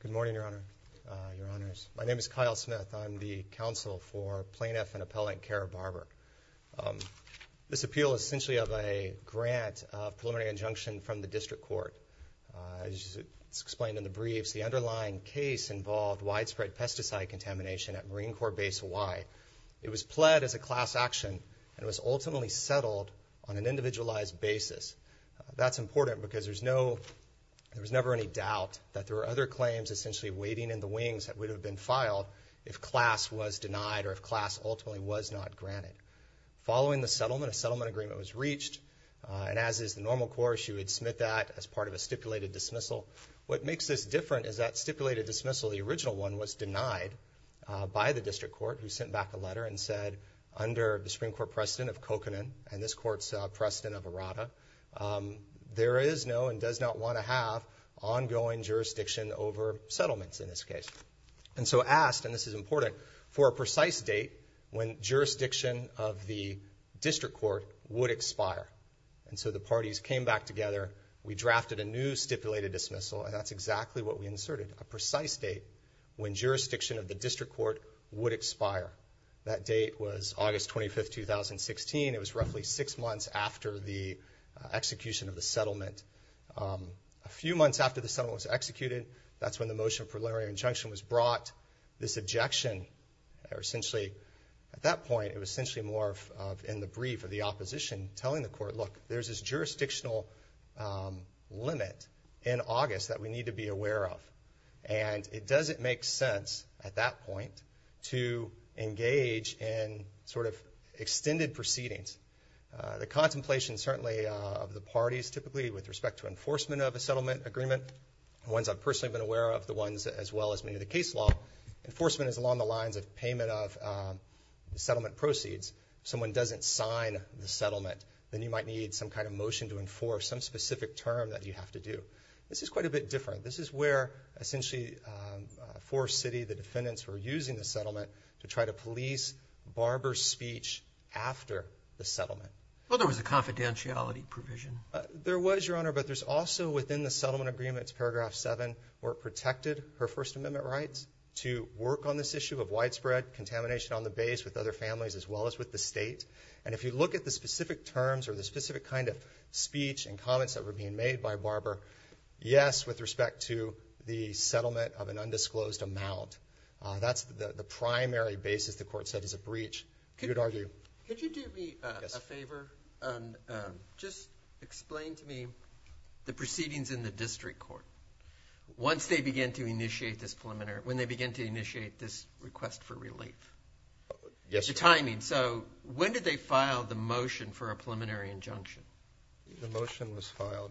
Good morning, Your Honor, Your Honors. My name is Kyle Smith. I'm the counsel for Plaintiff and Appellant Kara Barber. This appeal is essentially of a grant of preliminary injunction from the District Court. As explained in the briefs, the underlying case involved widespread pesticide contamination at Marine Corps Base Y. It was pled as a class action and was ultimately unsettled on an individualized basis. That's important because there's no, there was never any doubt that there were other claims essentially waiting in the wings that would have been filed if class was denied or if class ultimately was not granted. Following the settlement, a settlement agreement was reached, and as is the normal course, you would submit that as part of a stipulated dismissal. What makes this different is that stipulated dismissal, the original one, was denied by the District Court, who sent back a letter and said, under the Supreme Court precedent of Kokanen and this Court's precedent of Arata, there is no and does not want to have ongoing jurisdiction over settlements in this case. And so asked, and this is important, for a precise date when jurisdiction of the District Court would expire. And so the parties came back together, we drafted a new stipulated dismissal, and that's exactly what we inserted, a precise date when jurisdiction of the District Court would expire. That date was August 25th, 2016. It was roughly six months after the execution of the settlement. A few months after the settlement was executed, that's when the motion of preliminary injunction was brought. This objection, essentially, at that point, it was essentially more of in the brief of the opposition telling the Court, look, there's this jurisdictional limit in August that we need to be aware of. And it doesn't make sense at that point to engage in sort of extended proceedings. The contemplation certainly of the parties, typically with respect to enforcement of a settlement agreement, the ones I've personally been aware of, the ones as well as many of the case law, enforcement is along the lines of payment of settlement proceeds. Someone doesn't sign the settlement, then you might need some kind of motion to enforce some specific term that you have to do. This is quite a the defendants were using the settlement to try to police Barber's speech after the settlement. Well, there was a confidentiality provision. There was, Your Honor, but there's also within the settlement agreements, paragraph 7, where it protected her First Amendment rights to work on this issue of widespread contamination on the base with other families as well as with the State. And if you look at the specific terms or the specific kind of speech and comments that were being made by Barber, yes, with respect to the settlement of an undisclosed amount, that's the primary basis the court set as a breach, you'd argue. Could you do me a favor and just explain to me the proceedings in the district court. Once they began to initiate this preliminary, when they began to initiate this request for relief, the timing, so when did they file the motion for a preliminary injunction? The motion was filed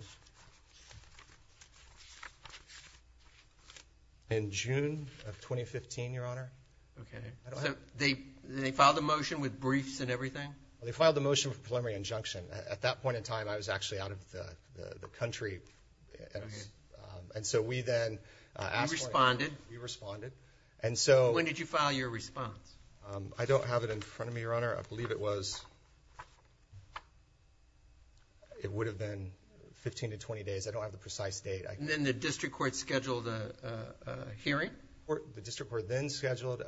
in June of 2015, Your Honor. Okay, so they they filed a motion with briefs and everything? They filed the motion for preliminary injunction. At that point in time, I was actually out of the country. And so we then responded. We responded. And so when did you file your response? I don't have it in front of me, Your Honor. I believe it was, it would have been 15 to 20 days. I don't have the precise date. And then the district court scheduled a hearing? The district court then scheduled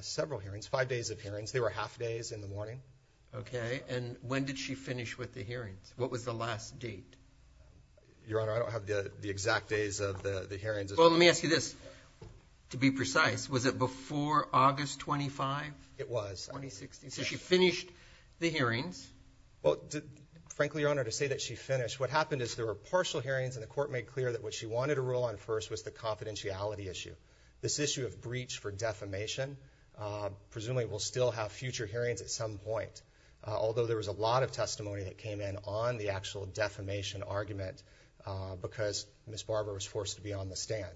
several hearings, five days of hearings. They were half days in the morning. Okay, and when did she finish with the hearings? What was the last date? Well, let me ask you this, to be precise. Was it before August 25? It was. 2016. So she finished the hearings? Well, frankly, Your Honor, to say that she finished, what happened is there were partial hearings and the court made clear that what she wanted to rule on first was the confidentiality issue. This issue of breach for defamation, presumably we'll still have future hearings at some point, although there was a lot of testimony that came in on the actual defamation argument because Ms. Barber was forced to be on the stand.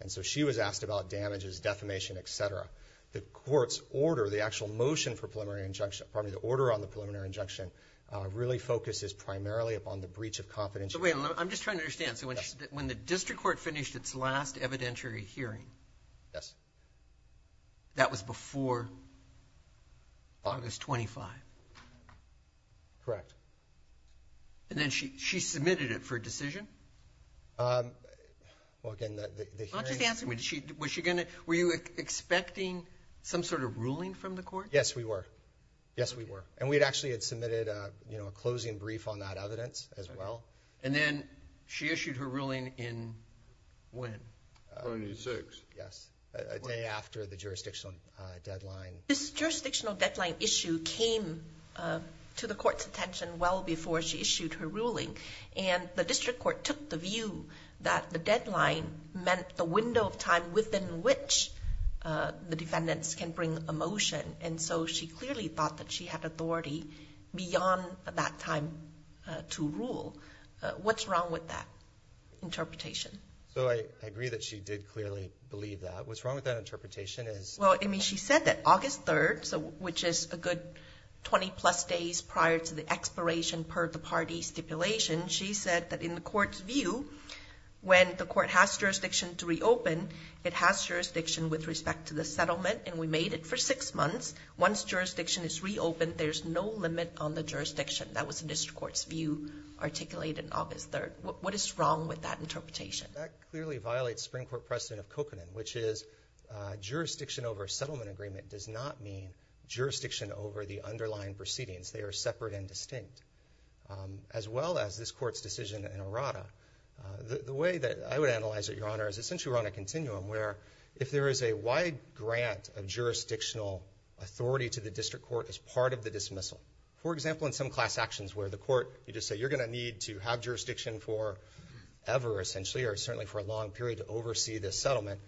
And so she was asked about damages, defamation, et cetera. The court's order, the actual motion for preliminary injunction, pardon me, the order on the preliminary injunction really focuses primarily upon the breach of confidentiality. So wait, I'm just trying to understand. So when the district court finished its last evidentiary hearing, that was before August 25? Correct. Correct. And then she submitted it for a decision? Well, again, the hearings... I'm just asking, were you expecting some sort of ruling from the court? Yes, we were. Yes, we were. And we actually had submitted a closing brief on that evidence as well. And then she issued her ruling in when? 26. Yes, a day after the jurisdictional deadline. This jurisdictional deadline issue came to the court's attention well before she issued her ruling. And the district court took the view that the deadline meant the window of time within which the defendants can bring a motion. And so she clearly thought that she had authority beyond that time to rule. What's wrong with that interpretation? So I agree that she did clearly believe that. What's wrong with that interpretation is... Well, I mean, she said that August 3rd, which is a good 20-plus days prior to the expiration per the party stipulation, she said that in the court's view, when the court has jurisdiction to reopen, it has jurisdiction with respect to the settlement. And we made it for 6 months. Once jurisdiction is reopened, there's no limit on the jurisdiction. That was the district court's view articulated on August 3rd. What is wrong with that interpretation? That clearly violates the Supreme Court precedent of Kokanen, which is jurisdiction over a settlement agreement does not mean jurisdiction over the underlying proceedings. They are separate and distinct. As well as this court's decision in Errada, the way that I would analyze it, Your Honor, is essentially we're on a continuum where if there is a wide grant of jurisdictional authority to the district court as part of the dismissal, for example, in some class actions where the court, you just say, you're going to need to have jurisdiction for ever, essentially, or certainly for a long period to oversee this settlement.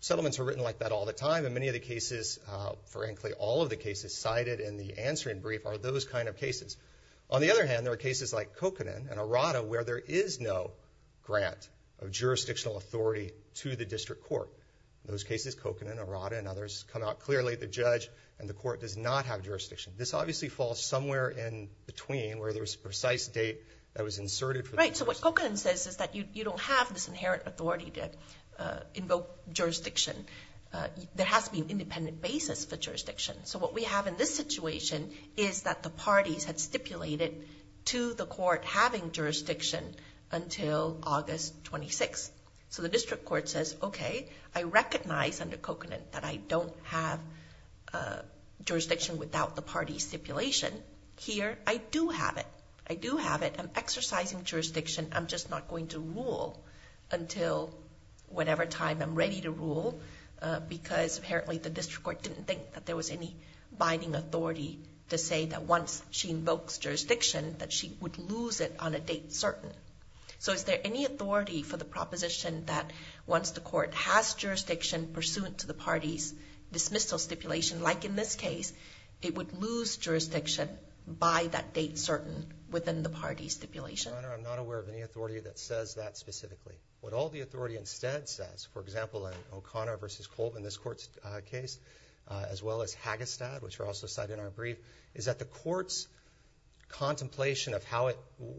Settlements are written like that all the time. In many of the cases, frankly, all of the cases cited in the answering brief are those kind of cases. On the other hand, there are cases like Kokanen and Errada where there is no grant of jurisdictional authority to the district court. In those cases, Kokanen, Errada, and others come out clearly. The judge and the court does not have jurisdiction. This obviously falls somewhere in between where there's a precise date that was inserted for the dismissal. Right. So what Kokanen says is that you don't have this inherent authority to invoke jurisdiction. There has to be an independent basis for jurisdiction. So what we have in this situation is that the parties had stipulated to the court having jurisdiction until August 26. So the district court says, okay, I recognize under Kokanen that I don't have jurisdiction without the jurisdiction. I'm just not going to rule until whatever time I'm ready to rule because apparently the district court didn't think that there was any binding authority to say that once she invokes jurisdiction that she would lose it on a date certain. So is there any authority for the proposition that once the court has jurisdiction pursuant to the party's dismissal stipulation, like in this case, it would lose jurisdiction by that date certain within the party's stipulation? Your Honor, I'm not aware of any authority that says that specifically. What all the authority instead says, for example, in O'Connor v. Colvin, this court's case, as well as Hagestad, which were also cited in our brief, is that the court's contemplation of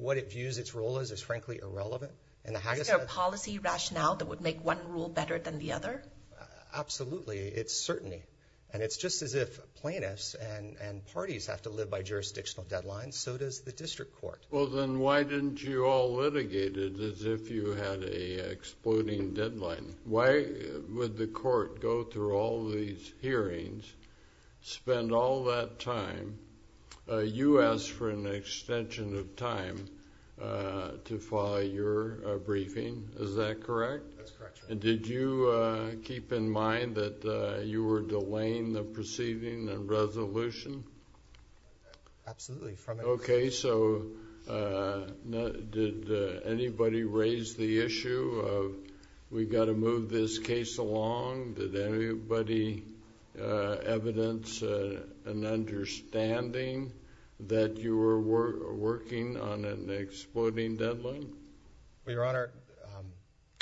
what it views its role as is frankly irrelevant. Is there a policy rationale that would make one rule better than the other? Absolutely. It's certainty. And it's just as if plaintiffs and parties have to live by jurisdictional deadlines, so does the district court. Well, then why didn't you all litigate it as if you had a exploding deadline? Why would the court go through all these hearings, spend all that time? You asked for an extension of time to file your briefing. Is that correct? That's correct, Your Honor. Did you keep in mind that you were delaying the proceeding and resolution? Absolutely. Okay. So, did anybody raise the issue of we've got to move this case along? Did anybody evidence an understanding that you were working on an exploding deadline? Well, Your Honor...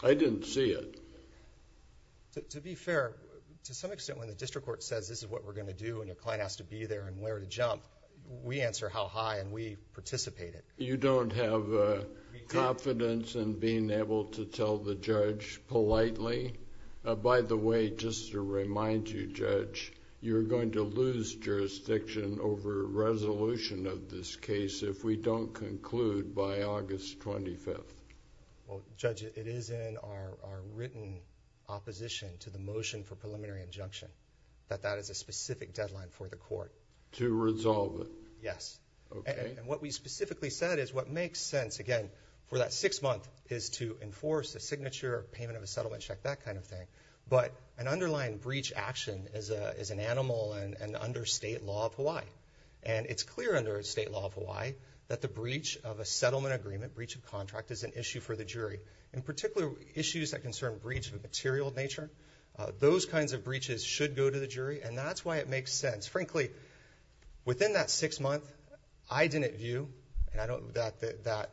I didn't see it. To be fair, to some extent when the district court says this is what we're going to do and a client has to be there and where to jump, we answer how high and we participate it. You don't have confidence in being able to tell the judge politely? By the way, just to remind you, Judge, you're going to lose jurisdiction over resolution of this case if we don't conclude by August 25th. Well, Judge, it is in our written opposition to the motion for preliminary injunction that that is a specific deadline for the court. To resolve it? Yes. Okay. And what we specifically said is what makes sense, again, for that six months is to enforce a signature, payment of a settlement check, that kind of thing. But an underlying breach action is an animal and under state law of Hawaii. And it's clear under state law of In particular, issues that concern breach of a material nature, those kinds of breaches should go to the jury. And that's why it makes sense. Frankly, within that six months, I didn't view that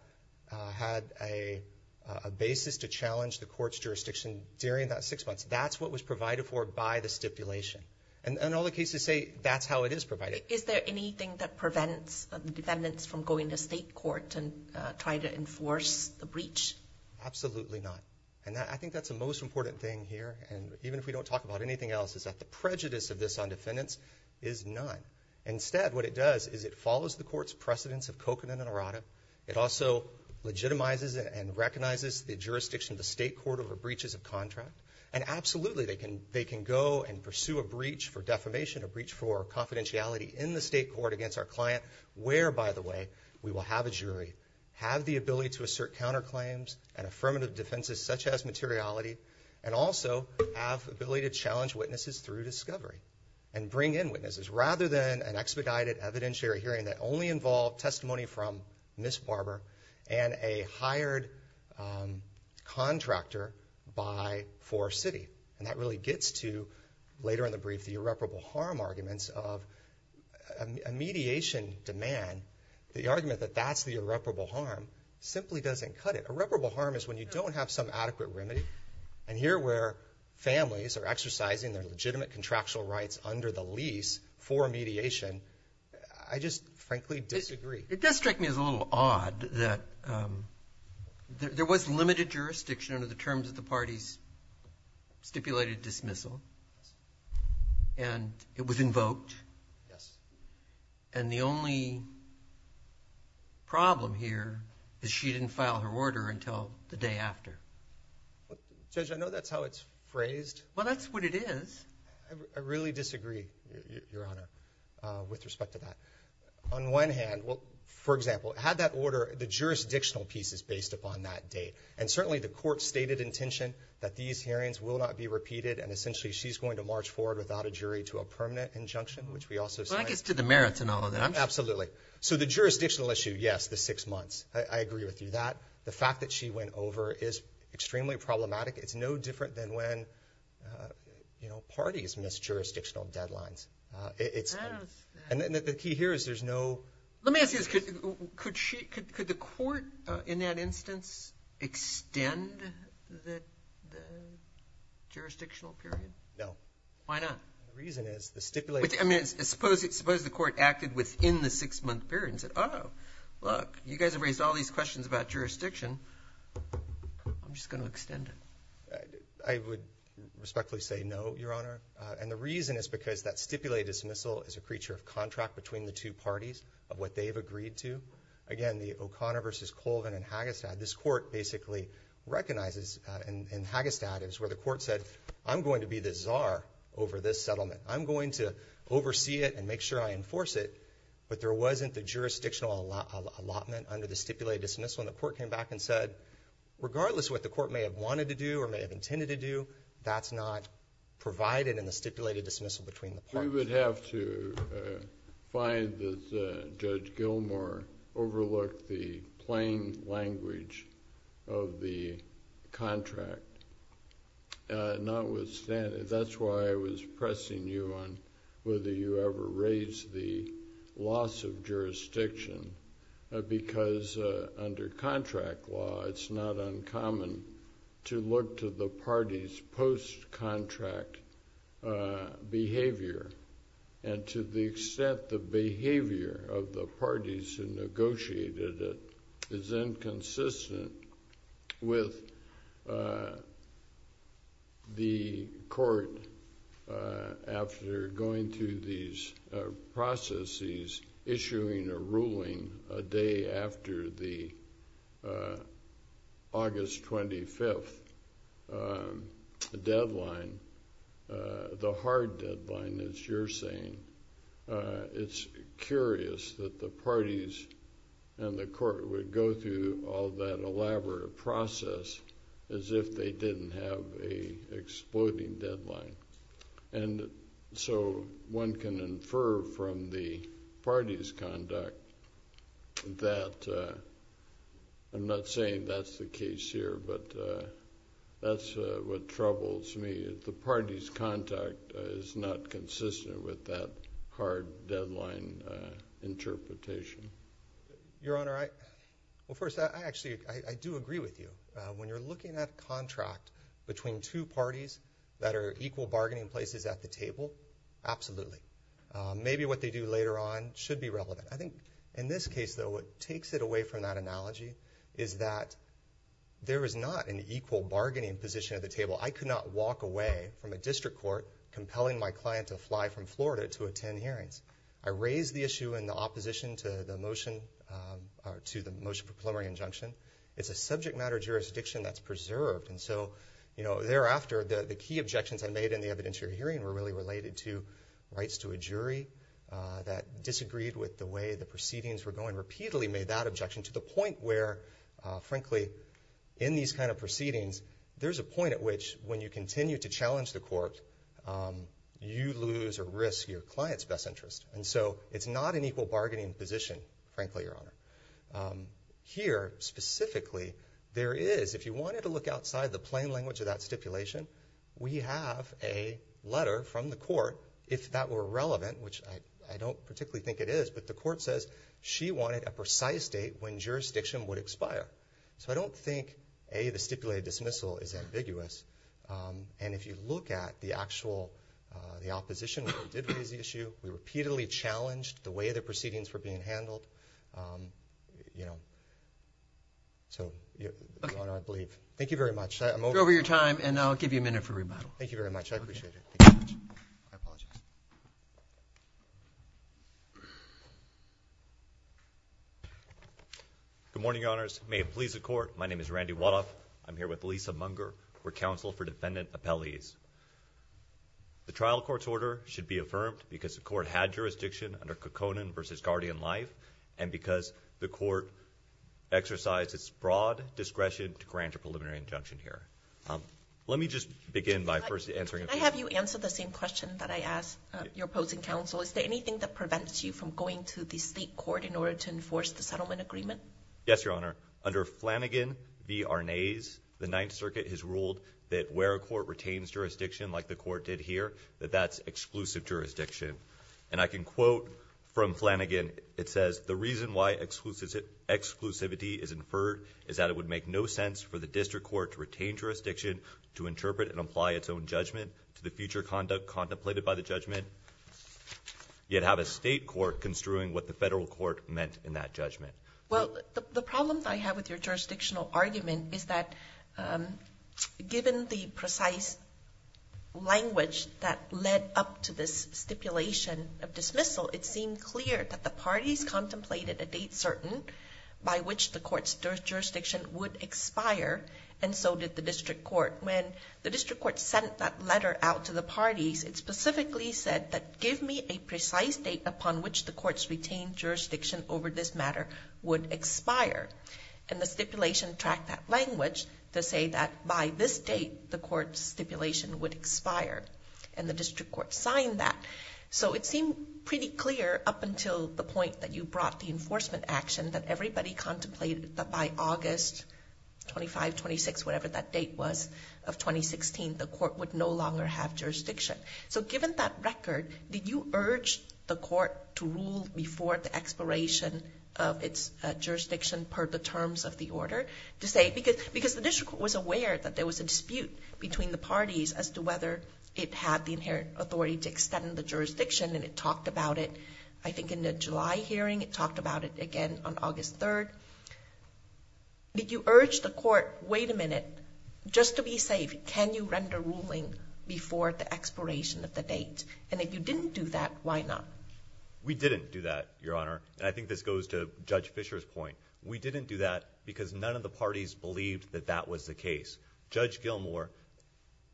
had a basis to challenge the court's jurisdiction during that six months. That's what was provided for by the stipulation. And all the cases say that's how it is provided. Is there anything that prevents the defendants from going to state court and trying to enforce the breach? Absolutely not. And I think that's the most important thing here. And even if we don't talk about anything else, is that the prejudice of this on defendants is not. Instead, what it does is it follows the court's precedence of coconut and errata. It also legitimizes and recognizes the jurisdiction of the state court over breaches of contract. And absolutely, they can go and pursue a breach for defamation, a breach for confidentiality in the state court against our client, where, by the way, we will have a jury, have the ability to assert counterclaims and affirmative defenses such as materiality, and also have the ability to challenge witnesses through discovery and bring in witnesses, rather than an expedited evidentiary hearing that only involved testimony from Ms. Barber and a hired contractor by For City. And that really gets to, later in the brief, the irreparable harm arguments of a mediation demand. The argument that that's the irreparable harm simply doesn't cut it. Irreparable harm is when you don't have some adequate remedy. And here where families are exercising their legitimate contractual rights under the lease for mediation, I just frankly disagree. It does strike me as a little odd that there was limited jurisdiction under the terms of the parties stipulated dismissal. And it was invoked. And the only problem here is she didn't file her order until the day after. Judge, I know that's how it's phrased. Well, that's what it is. I really disagree, Your Honor, with respect to that. On one hand, for example, had that that these hearings will not be repeated. And essentially, she's going to march forward without a jury to a permanent injunction, which we also signed. Well, I guess to the merits and all of that. Absolutely. So the jurisdictional issue, yes, the six months. I agree with you that. The fact that she went over is extremely problematic. It's no different than when parties miss jurisdictional deadlines. I don't understand. And the key here is there's no – Let me ask you this. Could the court in that instance extend the jurisdictional period? No. Why not? The reason is the stipulated – I mean, suppose the court acted within the six-month period and said, oh, look, you guys have raised all these questions about jurisdiction. I'm just going to extend it. I would respectfully say no, Your Honor. And the reason is because that stipulated dismissal is a creature of contract between the two parties of what they've agreed to. Again, the O'Connor v. Colvin in Hagestad, this court basically recognizes – in Hagestad, it was where the court said, I'm going to be the czar over this settlement. I'm going to oversee it and make sure I enforce it. But there wasn't the jurisdictional allotment under the stipulated dismissal. And the court came back and said, regardless of what the court may have wanted to do or may have intended to do, that's not provided in the stipulated dismissal between the parties. We would have to find that Judge Gilmour overlooked the plain language of the contract, notwithstanding – that's why I was pressing you on whether you ever raised the loss of jurisdiction, because under contract law, it's not uncommon to look to the parties' post-contract behavior. And to the extent the behavior of the parties who negotiated it is inconsistent with the deadline, a day after the August 25th deadline, the hard deadline, as you're saying, it's curious that the parties and the court would go through all that elaborate process as if they didn't have an exploding deadline. And so, one can infer from the parties' conduct that – I'm not saying that's the case here, but that's what troubles me, is the parties' conduct is not consistent with that hard deadline interpretation. Your Honor, I – well, first, I actually – I do agree with you. When you're looking at contract between two parties that are equal bargaining places at the table, absolutely. Maybe what they do later on should be relevant. I think in this case, though, what takes it away from that analogy is that there is not an equal bargaining position at the table. I could not walk away from a district court compelling my client to fly from Florida to the motion for preliminary injunction. It's a subject matter jurisdiction that's preserved. And so, thereafter, the key objections I made in the evidence you're hearing were really related to rights to a jury that disagreed with the way the proceedings were going. Repeatedly made that objection to the point where, frankly, in these kind of proceedings, there's a point at which when you continue to challenge the court, you lose or risk your client's best position, frankly, Your Honor. Here, specifically, there is – if you wanted to look outside the plain language of that stipulation, we have a letter from the court, if that were relevant, which I don't particularly think it is, but the court says she wanted a precise date when jurisdiction would expire. So I don't think, A, the stipulated dismissal is ambiguous. And if you look at the actual – the opposition did raise the issue. We handled, you know – so, Your Honor, I believe. Thank you very much. I'm over – You're over your time, and I'll give you a minute for rebuttal. Thank you very much. I appreciate it. I apologize. Good morning, Your Honors. May it please the Court, my name is Randy Wadoff. I'm here with Lisa Munger. We're counsel for defendant appellees. The trial court's order should be affirmed because the court had jurisdiction under Kekkonen v. Guardian Life, and because the court exercised its broad discretion to grant a preliminary injunction here. Let me just begin by first answering a question. Can I have you answer the same question that I asked your opposing counsel? Is there anything that prevents you from going to the state court in order to enforce the settlement agreement? Yes, Your Honor. Under Flanagan v. Arnaz, the Ninth Circuit has ruled that where a court retains jurisdiction, like the court did here, that that's exclusive jurisdiction. And I can quote from Flanagan. It says, the reason why exclusivity is inferred is that it would make no sense for the district court to retain jurisdiction to interpret and apply its own judgment to the future conduct contemplated by the judgment, yet have a state court construing what the federal court meant in that judgment. Well, the problem that I have with your jurisdictional argument is that given the precise language that led up to this stipulation of dismissal, it seemed clear that the parties contemplated a date certain by which the court's jurisdiction would expire, and so did the district court. When the district court sent that letter out to the parties, it specifically said that give me a precise date upon which the court's retained jurisdiction over this matter would expire. And the stipulation tracked that language to say that by this date, the court's stipulation would expire. And the district court signed that. So it seemed pretty clear up until the point that you brought the enforcement action that everybody contemplated that by August 25, 26, whatever that date was, of 2016, the court would no longer have jurisdiction. So given that record, did you urge the court to rule before the expiration of its jurisdiction per the terms of the order? Because the district court was aware that there was a dispute between the parties as to whether it had the inherent authority to extend the jurisdiction, and it talked about it, I think, in the July hearing. It talked about it again on August 3. Did you urge the court, wait a minute, just to be safe, can you render ruling before the expiration of the date? And if you didn't do that, why not? We didn't do that, Your Honor. And I think this goes to Judge Fisher's point. We didn't do that because none of the parties believed that that was the case. Judge Gilmour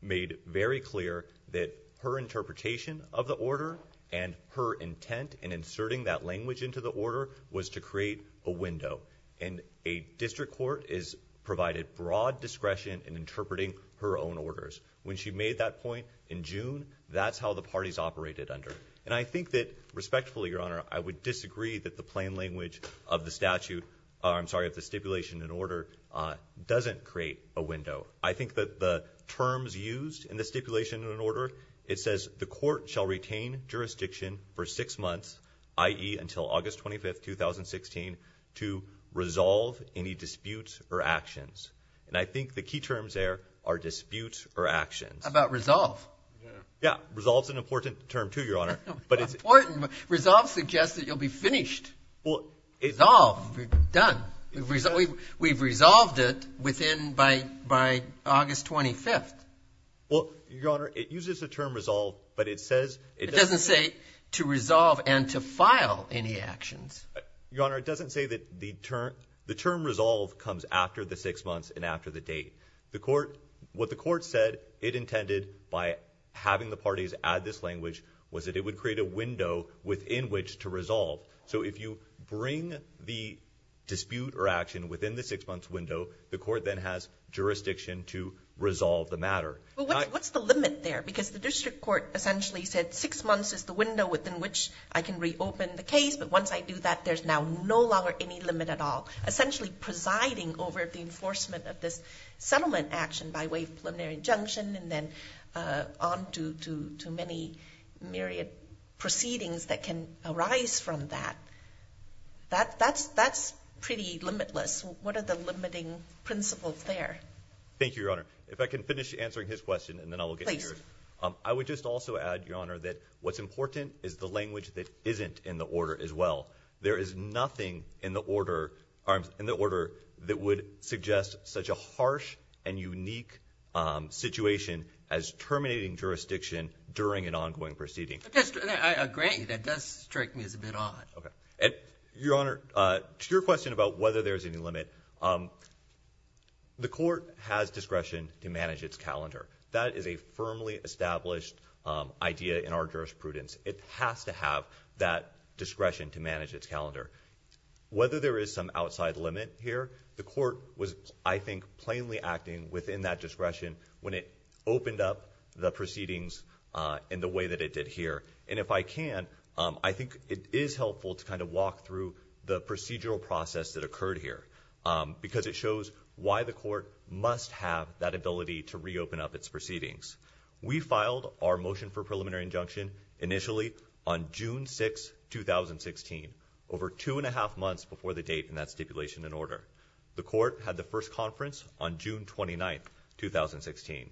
made very clear that her interpretation of the order and her intent in inserting that language into the order was to create a window. And a district court is provided broad discretion in interpreting her own orders. When she made that point in June, that's how the parties operated under. And I think that, respectfully, Your Honor, I would disagree that the plain language of the statute, I'm sorry, of the stipulation in order doesn't create a window. I think that the terms used in the stipulation in order, it says the court shall retain jurisdiction for six months, i.e. until August 25, 2016, to resolve any disputes or actions. And I think the key terms there are disputes or actions. How about resolve? Yeah. Resolve's an important term, too, Your Honor. Important. Resolve suggests that you'll be finished. Well, it... Resolve. You're done. We've resolved it within, by August 25th. Well, Your Honor, it uses the term resolve, but it says... It doesn't say to resolve and to file any actions. Your Honor, it doesn't say that the term resolve comes after the six months and after the date. What the court said it intended by having the parties add this language was that it would create a window within which to resolve. So if you bring the dispute or action within the six months window, the court then has jurisdiction to resolve the matter. Well, what's the limit there? Because the district court essentially said six months is the window within which I can reopen the case, but once I do that, there's now no longer any limit at all. Essentially presiding over the enforcement of this settlement action by way of preliminary injunction and then on to many myriad proceedings that can arise from that. That's pretty limitless. What are the limiting principles there? Thank you, Your Honor. If I can finish answering his question, and then I will get yours. I would just also add, Your Honor, that what's important is the language that isn't in the order as well. There is nothing in the order that would suggest such a harsh and unique situation as terminating jurisdiction during an ongoing proceeding. I agree. That does strike me as a bit odd. Okay. Your Honor, to your question about whether there's any limit, the court has discretion to manage its calendar. That is a firmly established idea in our jurisprudence. It has to have that discretion to manage its calendar. Whether there is some when it opened up the proceedings in the way that it did here. And if I can, I think it is helpful to kind of walk through the procedural process that occurred here because it shows why the court must have that ability to reopen up its proceedings. We filed our motion for preliminary injunction initially on June 6, 2016, over two and a half months before the date in that stipulation and order. The court had the first conference on June 6, 2016.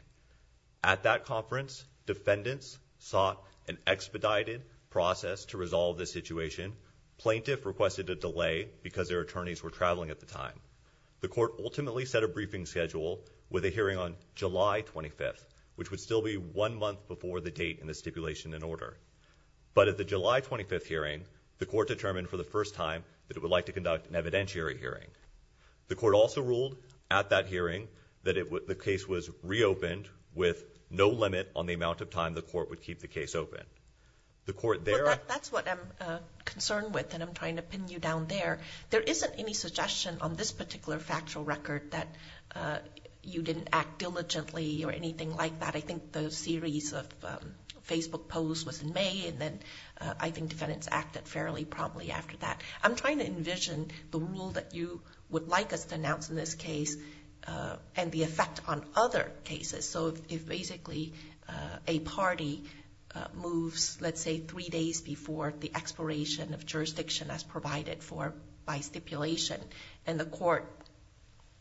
At that conference, defendants sought an expedited process to resolve this situation. Plaintiff requested a delay because their attorneys were traveling at the time. The court ultimately set a briefing schedule with a hearing on July 25, which would still be one month before the date in the stipulation and order. But at the July 25 hearing, the court determined for the first time that it would like to conduct an evidentiary hearing. The court also reopened with no limit on the amount of time the court would keep the case open. That's what I'm concerned with, and I'm trying to pin you down there. There isn't any suggestion on this particular factual record that you didn't act diligently or anything like that. I think the series of Facebook posts was in May, and then I think defendants acted fairly promptly after that. I'm trying to envision the rule that you would like us to announce in this case and the effect on other cases. So if basically a party moves, let's say, three days before the expiration of jurisdiction as provided for by stipulation, and the court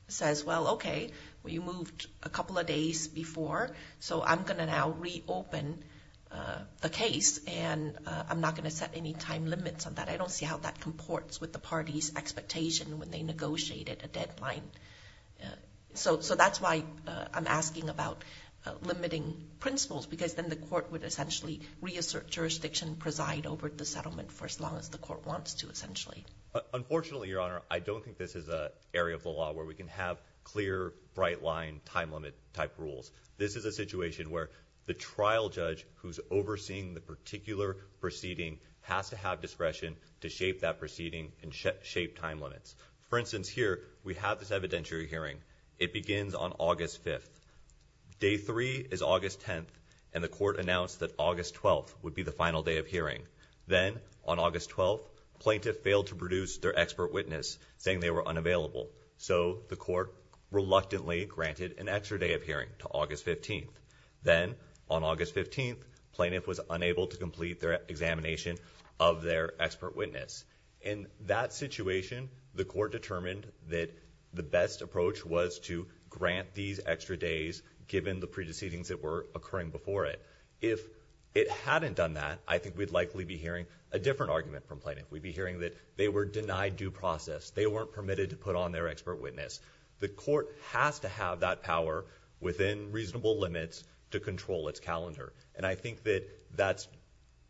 says, well, okay, we moved a couple of days before, so I'm going to now reopen the case and I'm not going to set any time limits on that. I don't see how that comports with the party's expectation when they negotiated a deadline. So that's why I'm asking about limiting principles, because then the court would essentially reassert jurisdiction, preside over the settlement for as long as the court wants to essentially. Unfortunately, Your Honor, I don't think this is an area of the law where we can have clear, bright line, time limit type rules. This is a situation where the trial judge who's overseeing the particular proceeding has to have discretion to shape that proceeding and shape time limits. For instance, here, we have this evidentiary hearing. It begins on August 5th. Day three is August 10th, and the court announced that August 12th would be the final day of hearing. Then, on August 12th, plaintiff failed to produce their expert witness, saying they were unavailable. So the court reluctantly granted an extra day of hearing to August 15th. Then, on August 15th, plaintiff was unable to complete their examination of their expert witness. In that situation, the court determined that the best approach was to grant these extra days given the pre-deceivings that were occurring before it. If it hadn't done that, I think we'd likely be hearing a different argument from plaintiff. We'd be hearing that they were denied due process. They weren't permitted to put on their expert witness. The court has to have that power within reasonable limits to control its calendar, and I think that that's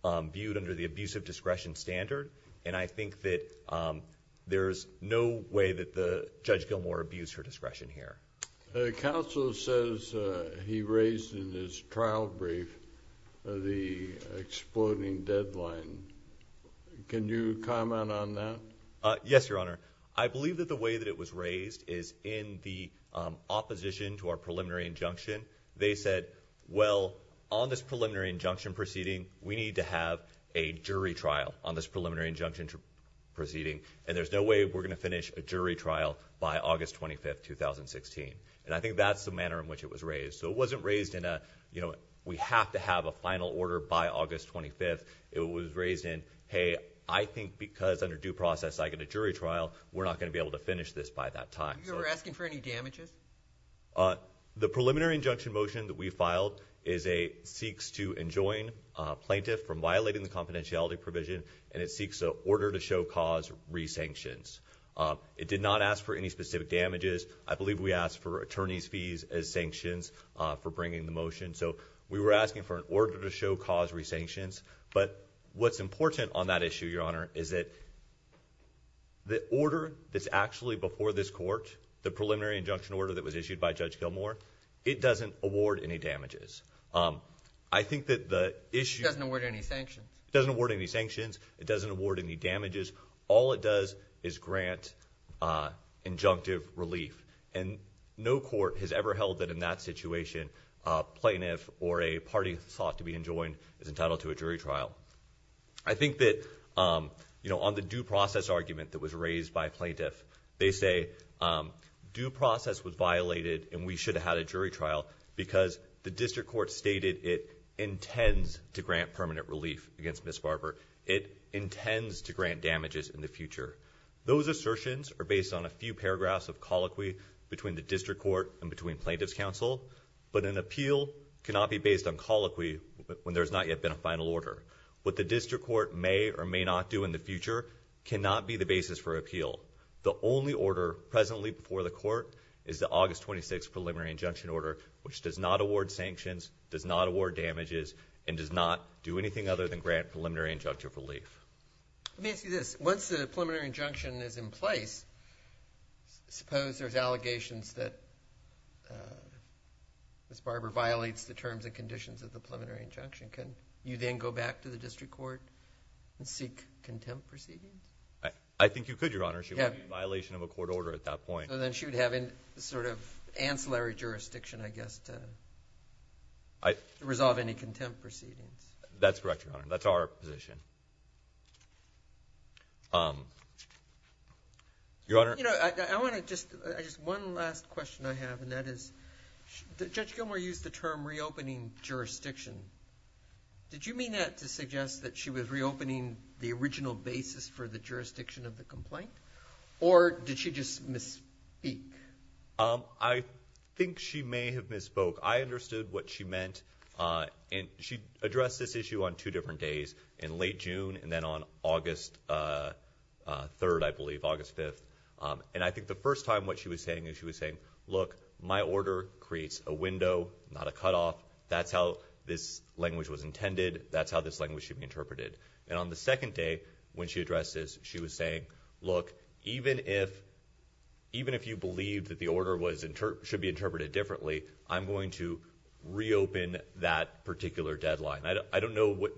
viewed under the abusive discretion standard, and I think that there's no way that Judge Gilmour abused her discretion here. The counsel says he raised in his trial brief the exploding deadline. Can you comment on that? Yes, Your Honor. I believe that the way that it was raised is in the opposition to our preliminary injunction. They said, well, on this preliminary injunction proceeding, we need to have a jury trial on this preliminary injunction proceeding, and there's no way we're going to finish a jury trial by August 25th, 2016, and I think that's the manner in which it was raised. So it wasn't raised in a, you know, we have to have a final order by August 25th. It was raised in, hey, I think because under due process I get a jury trial, we're not going to be able to finish this by that time. You were asking for any damages? The preliminary injunction motion that we filed seeks to enjoin plaintiff from violating the and it seeks an order to show cause re-sanctions. It did not ask for any specific damages. I believe we asked for attorney's fees as sanctions for bringing the motion. So we were asking for an order to show cause re-sanctions, but what's important on that issue, Your Honor, is that the order that's actually before this court, the preliminary injunction order that was issued by Judge Gilmour, it doesn't award any damages. I think that the issue... It doesn't award any sanctions. It doesn't award any sanctions. It doesn't award any damages. All it does is grant injunctive relief, and no court has ever held that in that situation a plaintiff or a party sought to be enjoined is entitled to a jury trial. I think that, you know, on the due process argument that was raised by plaintiff, they say due process was violated and we should have had It intends to grant damages in the future. Those assertions are based on a few paragraphs of colloquy between the district court and between plaintiff's counsel, but an appeal cannot be based on colloquy when there's not yet been a final order. What the district court may or may not do in the future cannot be the basis for appeal. The only order presently before the court is the August 26th preliminary injunction order, which does not award sanctions, does not grant preliminary injunctive relief. Let me ask you this. Once the preliminary injunction is in place, suppose there's allegations that Ms. Barber violates the terms and conditions of the preliminary injunction. Can you then go back to the district court and seek contempt proceedings? I think you could, Your Honor. She would be in violation of a court order at that point. So then she would have an sort of ancillary jurisdiction, I guess, to That's correct, Your Honor. That's our position. Your Honor, I want to just one last question I have, and that is, Judge Gilmour used the term reopening jurisdiction. Did you mean that to suggest that she was reopening the original basis for the jurisdiction of the complaint, or did she just misspeak? I think she may have spoke. I understood what she meant, and she addressed this issue on two different days, in late June and then on August 3rd, I believe, August 5th. And I think the first time what she was saying is she was saying, look, my order creates a window, not a cutoff. That's how this language was intended. That's how this language should be interpreted. And on the second day, when she addressed this, she was saying, look, even if you believe that the order should be reopened, I'm going to reopen that particular deadline. I don't know what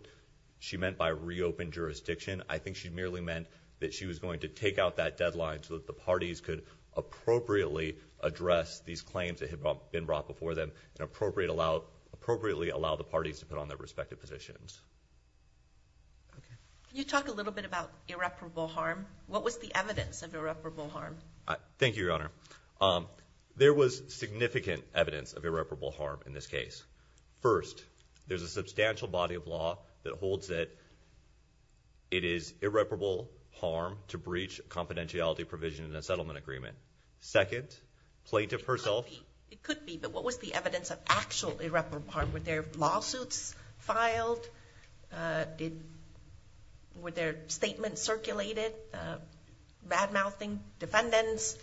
she meant by reopened jurisdiction. I think she merely meant that she was going to take out that deadline so that the parties could appropriately address these claims that had been brought before them and appropriately allow the parties to put on their respective positions. Can you talk a little bit about irreparable harm? What was the evidence of irreparable harm? Thank you, Your Honor. Um, there was significant evidence of irreparable harm in this case. First, there's a substantial body of law that holds that it is irreparable harm to breach confidentiality provision in a settlement agreement. Second, plaintiff herself. It could be, but what was the evidence of actual irreparable harm? Were there lawsuits filed? Uh, did, were there statements circulated, uh, bad-mouthing defendants?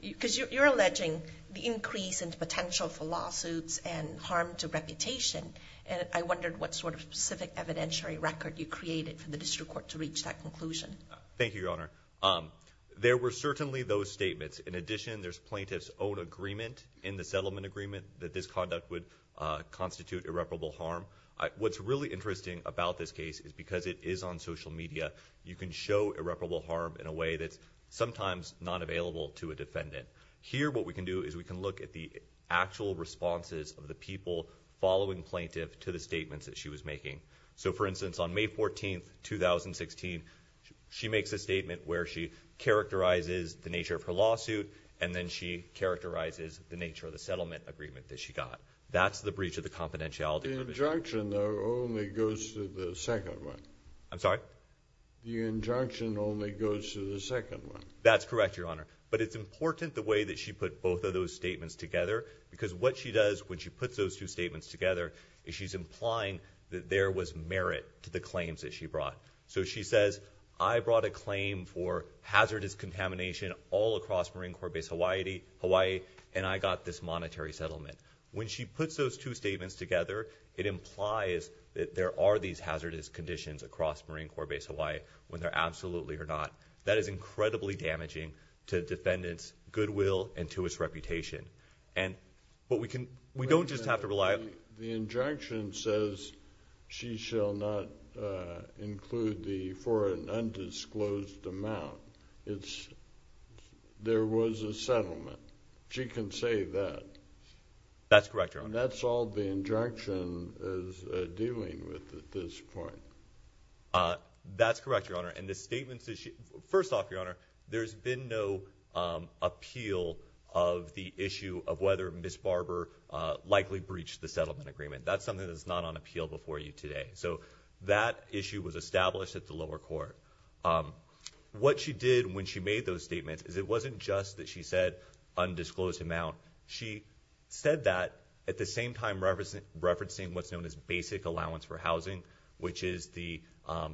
Because you're alleging the increase in potential for lawsuits and harm to reputation. And I wondered what sort of specific evidentiary record you created for the district court to reach that conclusion. Thank you, Your Honor. Um, there were certainly those statements. In addition, there's plaintiff's own agreement in the settlement agreement that this conduct would, uh, constitute irreparable harm. What's really interesting about this case is because it is on social media, you can show irreparable harm in a way that's sometimes not available to a defendant. Here, what we can do is we can look at the actual responses of the people following plaintiff to the statements that she was making. So, for instance, on May 14, 2016, she makes a statement where she characterizes the nature of her lawsuit, and then she characterizes the nature of the settlement agreement that she got. That's the breach of the second one. I'm sorry? The injunction only goes to the second one. That's correct, Your Honor. But it's important the way that she put both of those statements together, because what she does when she puts those two statements together is she's implying that there was merit to the claims that she brought. So she says, I brought a claim for hazardous contamination all across Marine Corps Base Hawaii, and I got this monetary settlement. When she puts those two statements together, it implies that there are these hazardous conditions across Marine Corps Base Hawaii, whether absolutely or not. That is incredibly damaging to defendants' goodwill and to its reputation. And what we can, we don't just have to rely on. The injunction says she shall not include the for an undisclosed amount. It's, there was a settlement. She can say that. That's correct, Your Honor. And that's all the injunction is dealing with at this point. That's correct, Your Honor. And the statements that she, first off, Your Honor, there's been no appeal of the issue of whether Ms. Barber likely breached the settlement agreement. That's something that's not on appeal before you today. So that issue was established at the lower court. What she did when she made those statements is it wasn't just that she said undisclosed amount. She said that at the same time referencing what's known as basic allowance for housing, which is the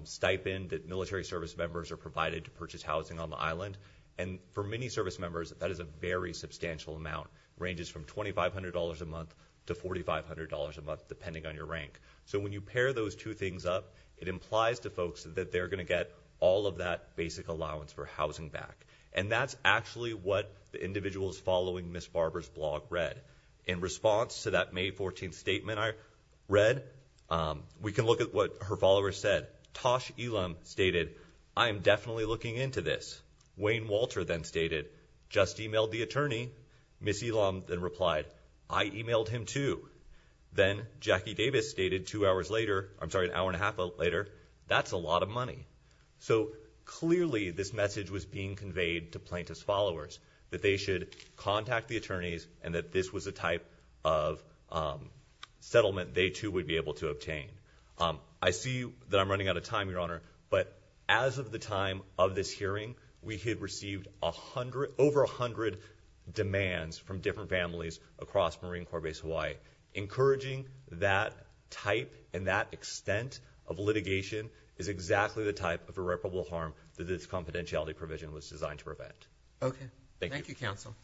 stipend that military service members are provided to purchase housing on the island. And for many service members, that is a very substantial amount. Ranges from $2,500 a month to $4,500 a month, depending on your rank. So when you pair those two things up, it implies to folks that they're going to get all of that basic allowance for housing back. And that's actually what the individuals following Ms. Barber's blog read. In response to that May 14th statement I read, we can look at what her followers said. Tosh Elam stated, I am definitely looking into this. Wayne Walter then stated, just emailed the attorney. Ms. Elam then replied, I emailed him too. Then Jackie Davis stated two hours later, I'm sorry, an hour and a half later, that's a lot of money. So clearly, this message was being conveyed to plaintiff's followers that they should contact the attorneys and that this was a type of settlement they too would be able to obtain. I see that I'm running out of time, Your Honor, but as of the time of this hearing, we had received over a hundred demands from different families across Marine Corps Base Hawaii. Encouraging that type and that extent of litigation is exactly the type of irreparable harm that this confidentiality provision was designed to prevent. Okay. Thank you, counsel.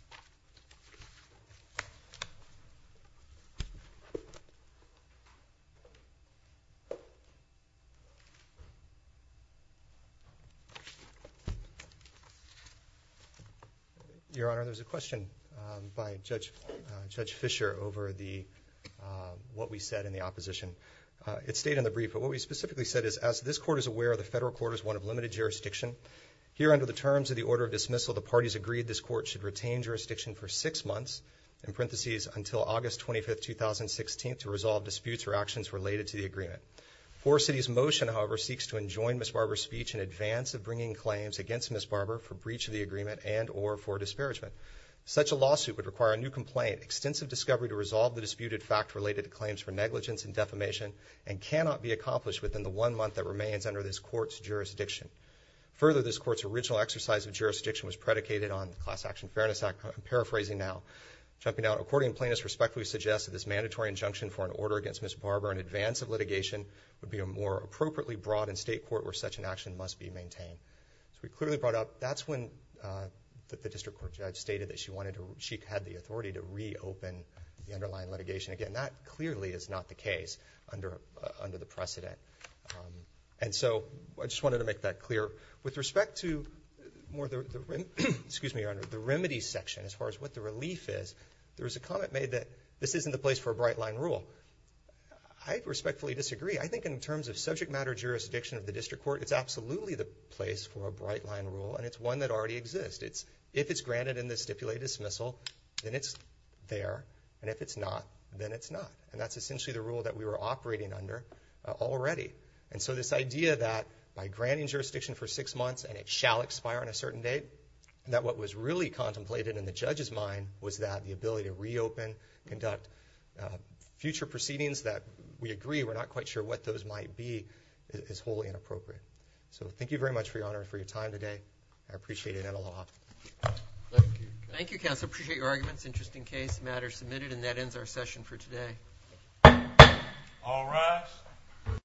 Your Honor, there's a question by Judge Fischer over what we said in the opposition. It stayed in the brief, but what we specifically said is, as this court is aware, the federal court is one of limited jurisdiction. Here under the terms of the order of dismissal, the parties agreed this court should retain jurisdiction for six months, in parenthesis, until August 25th, 2016, to resolve disputes or actions related to the agreement. Four cities motion, however, seeks to enjoin Ms. Barber's speech in advance of bringing claims against Ms. Barber for breach of the agreement and or for disparagement. Such a lawsuit would require a new complaint, extensive discovery to resolve the disputed fact related to claims for negligence and defamation, and cannot be accomplished within the one month that remains under this court's jurisdiction. Further, this court's original exercise of jurisdiction was predicated on the Class Action Fairness Act, I'm paraphrasing now. Jumping out, according to plaintiffs' respect, we suggest that this mandatory injunction for an order against Ms. Barber in advance of litigation would be more appropriately brought in state court where such an action must be maintained. So we clearly brought up, that's when the district court judge stated that she had the authority to reopen the underlying litigation. Again, that clearly is not the case under the precedent. And so, I just wanted to make that clear. With respect to more the, excuse me, Your Honor, the remedies section, as far as what the relief is, there was a comment made that this isn't the place for a bright line rule. I respectfully disagree. I think in terms of subject matter jurisdiction of the district court, it's absolutely the place for a bright line rule, and it's one that already exists. If it's granted in the And that's essentially the rule that we were operating under already. And so this idea that by granting jurisdiction for six months and it shall expire on a certain date, that what was really contemplated in the judge's mind was that the ability to reopen, conduct future proceedings that we agree, we're not quite sure what those might be, is wholly inappropriate. So thank you very much, Your Honor, for your time today. I appreciate it and a lot. Thank you. Thank you, counsel. Appreciate your arguments. Interesting case matter submitted, and that ends our session for today. All rise.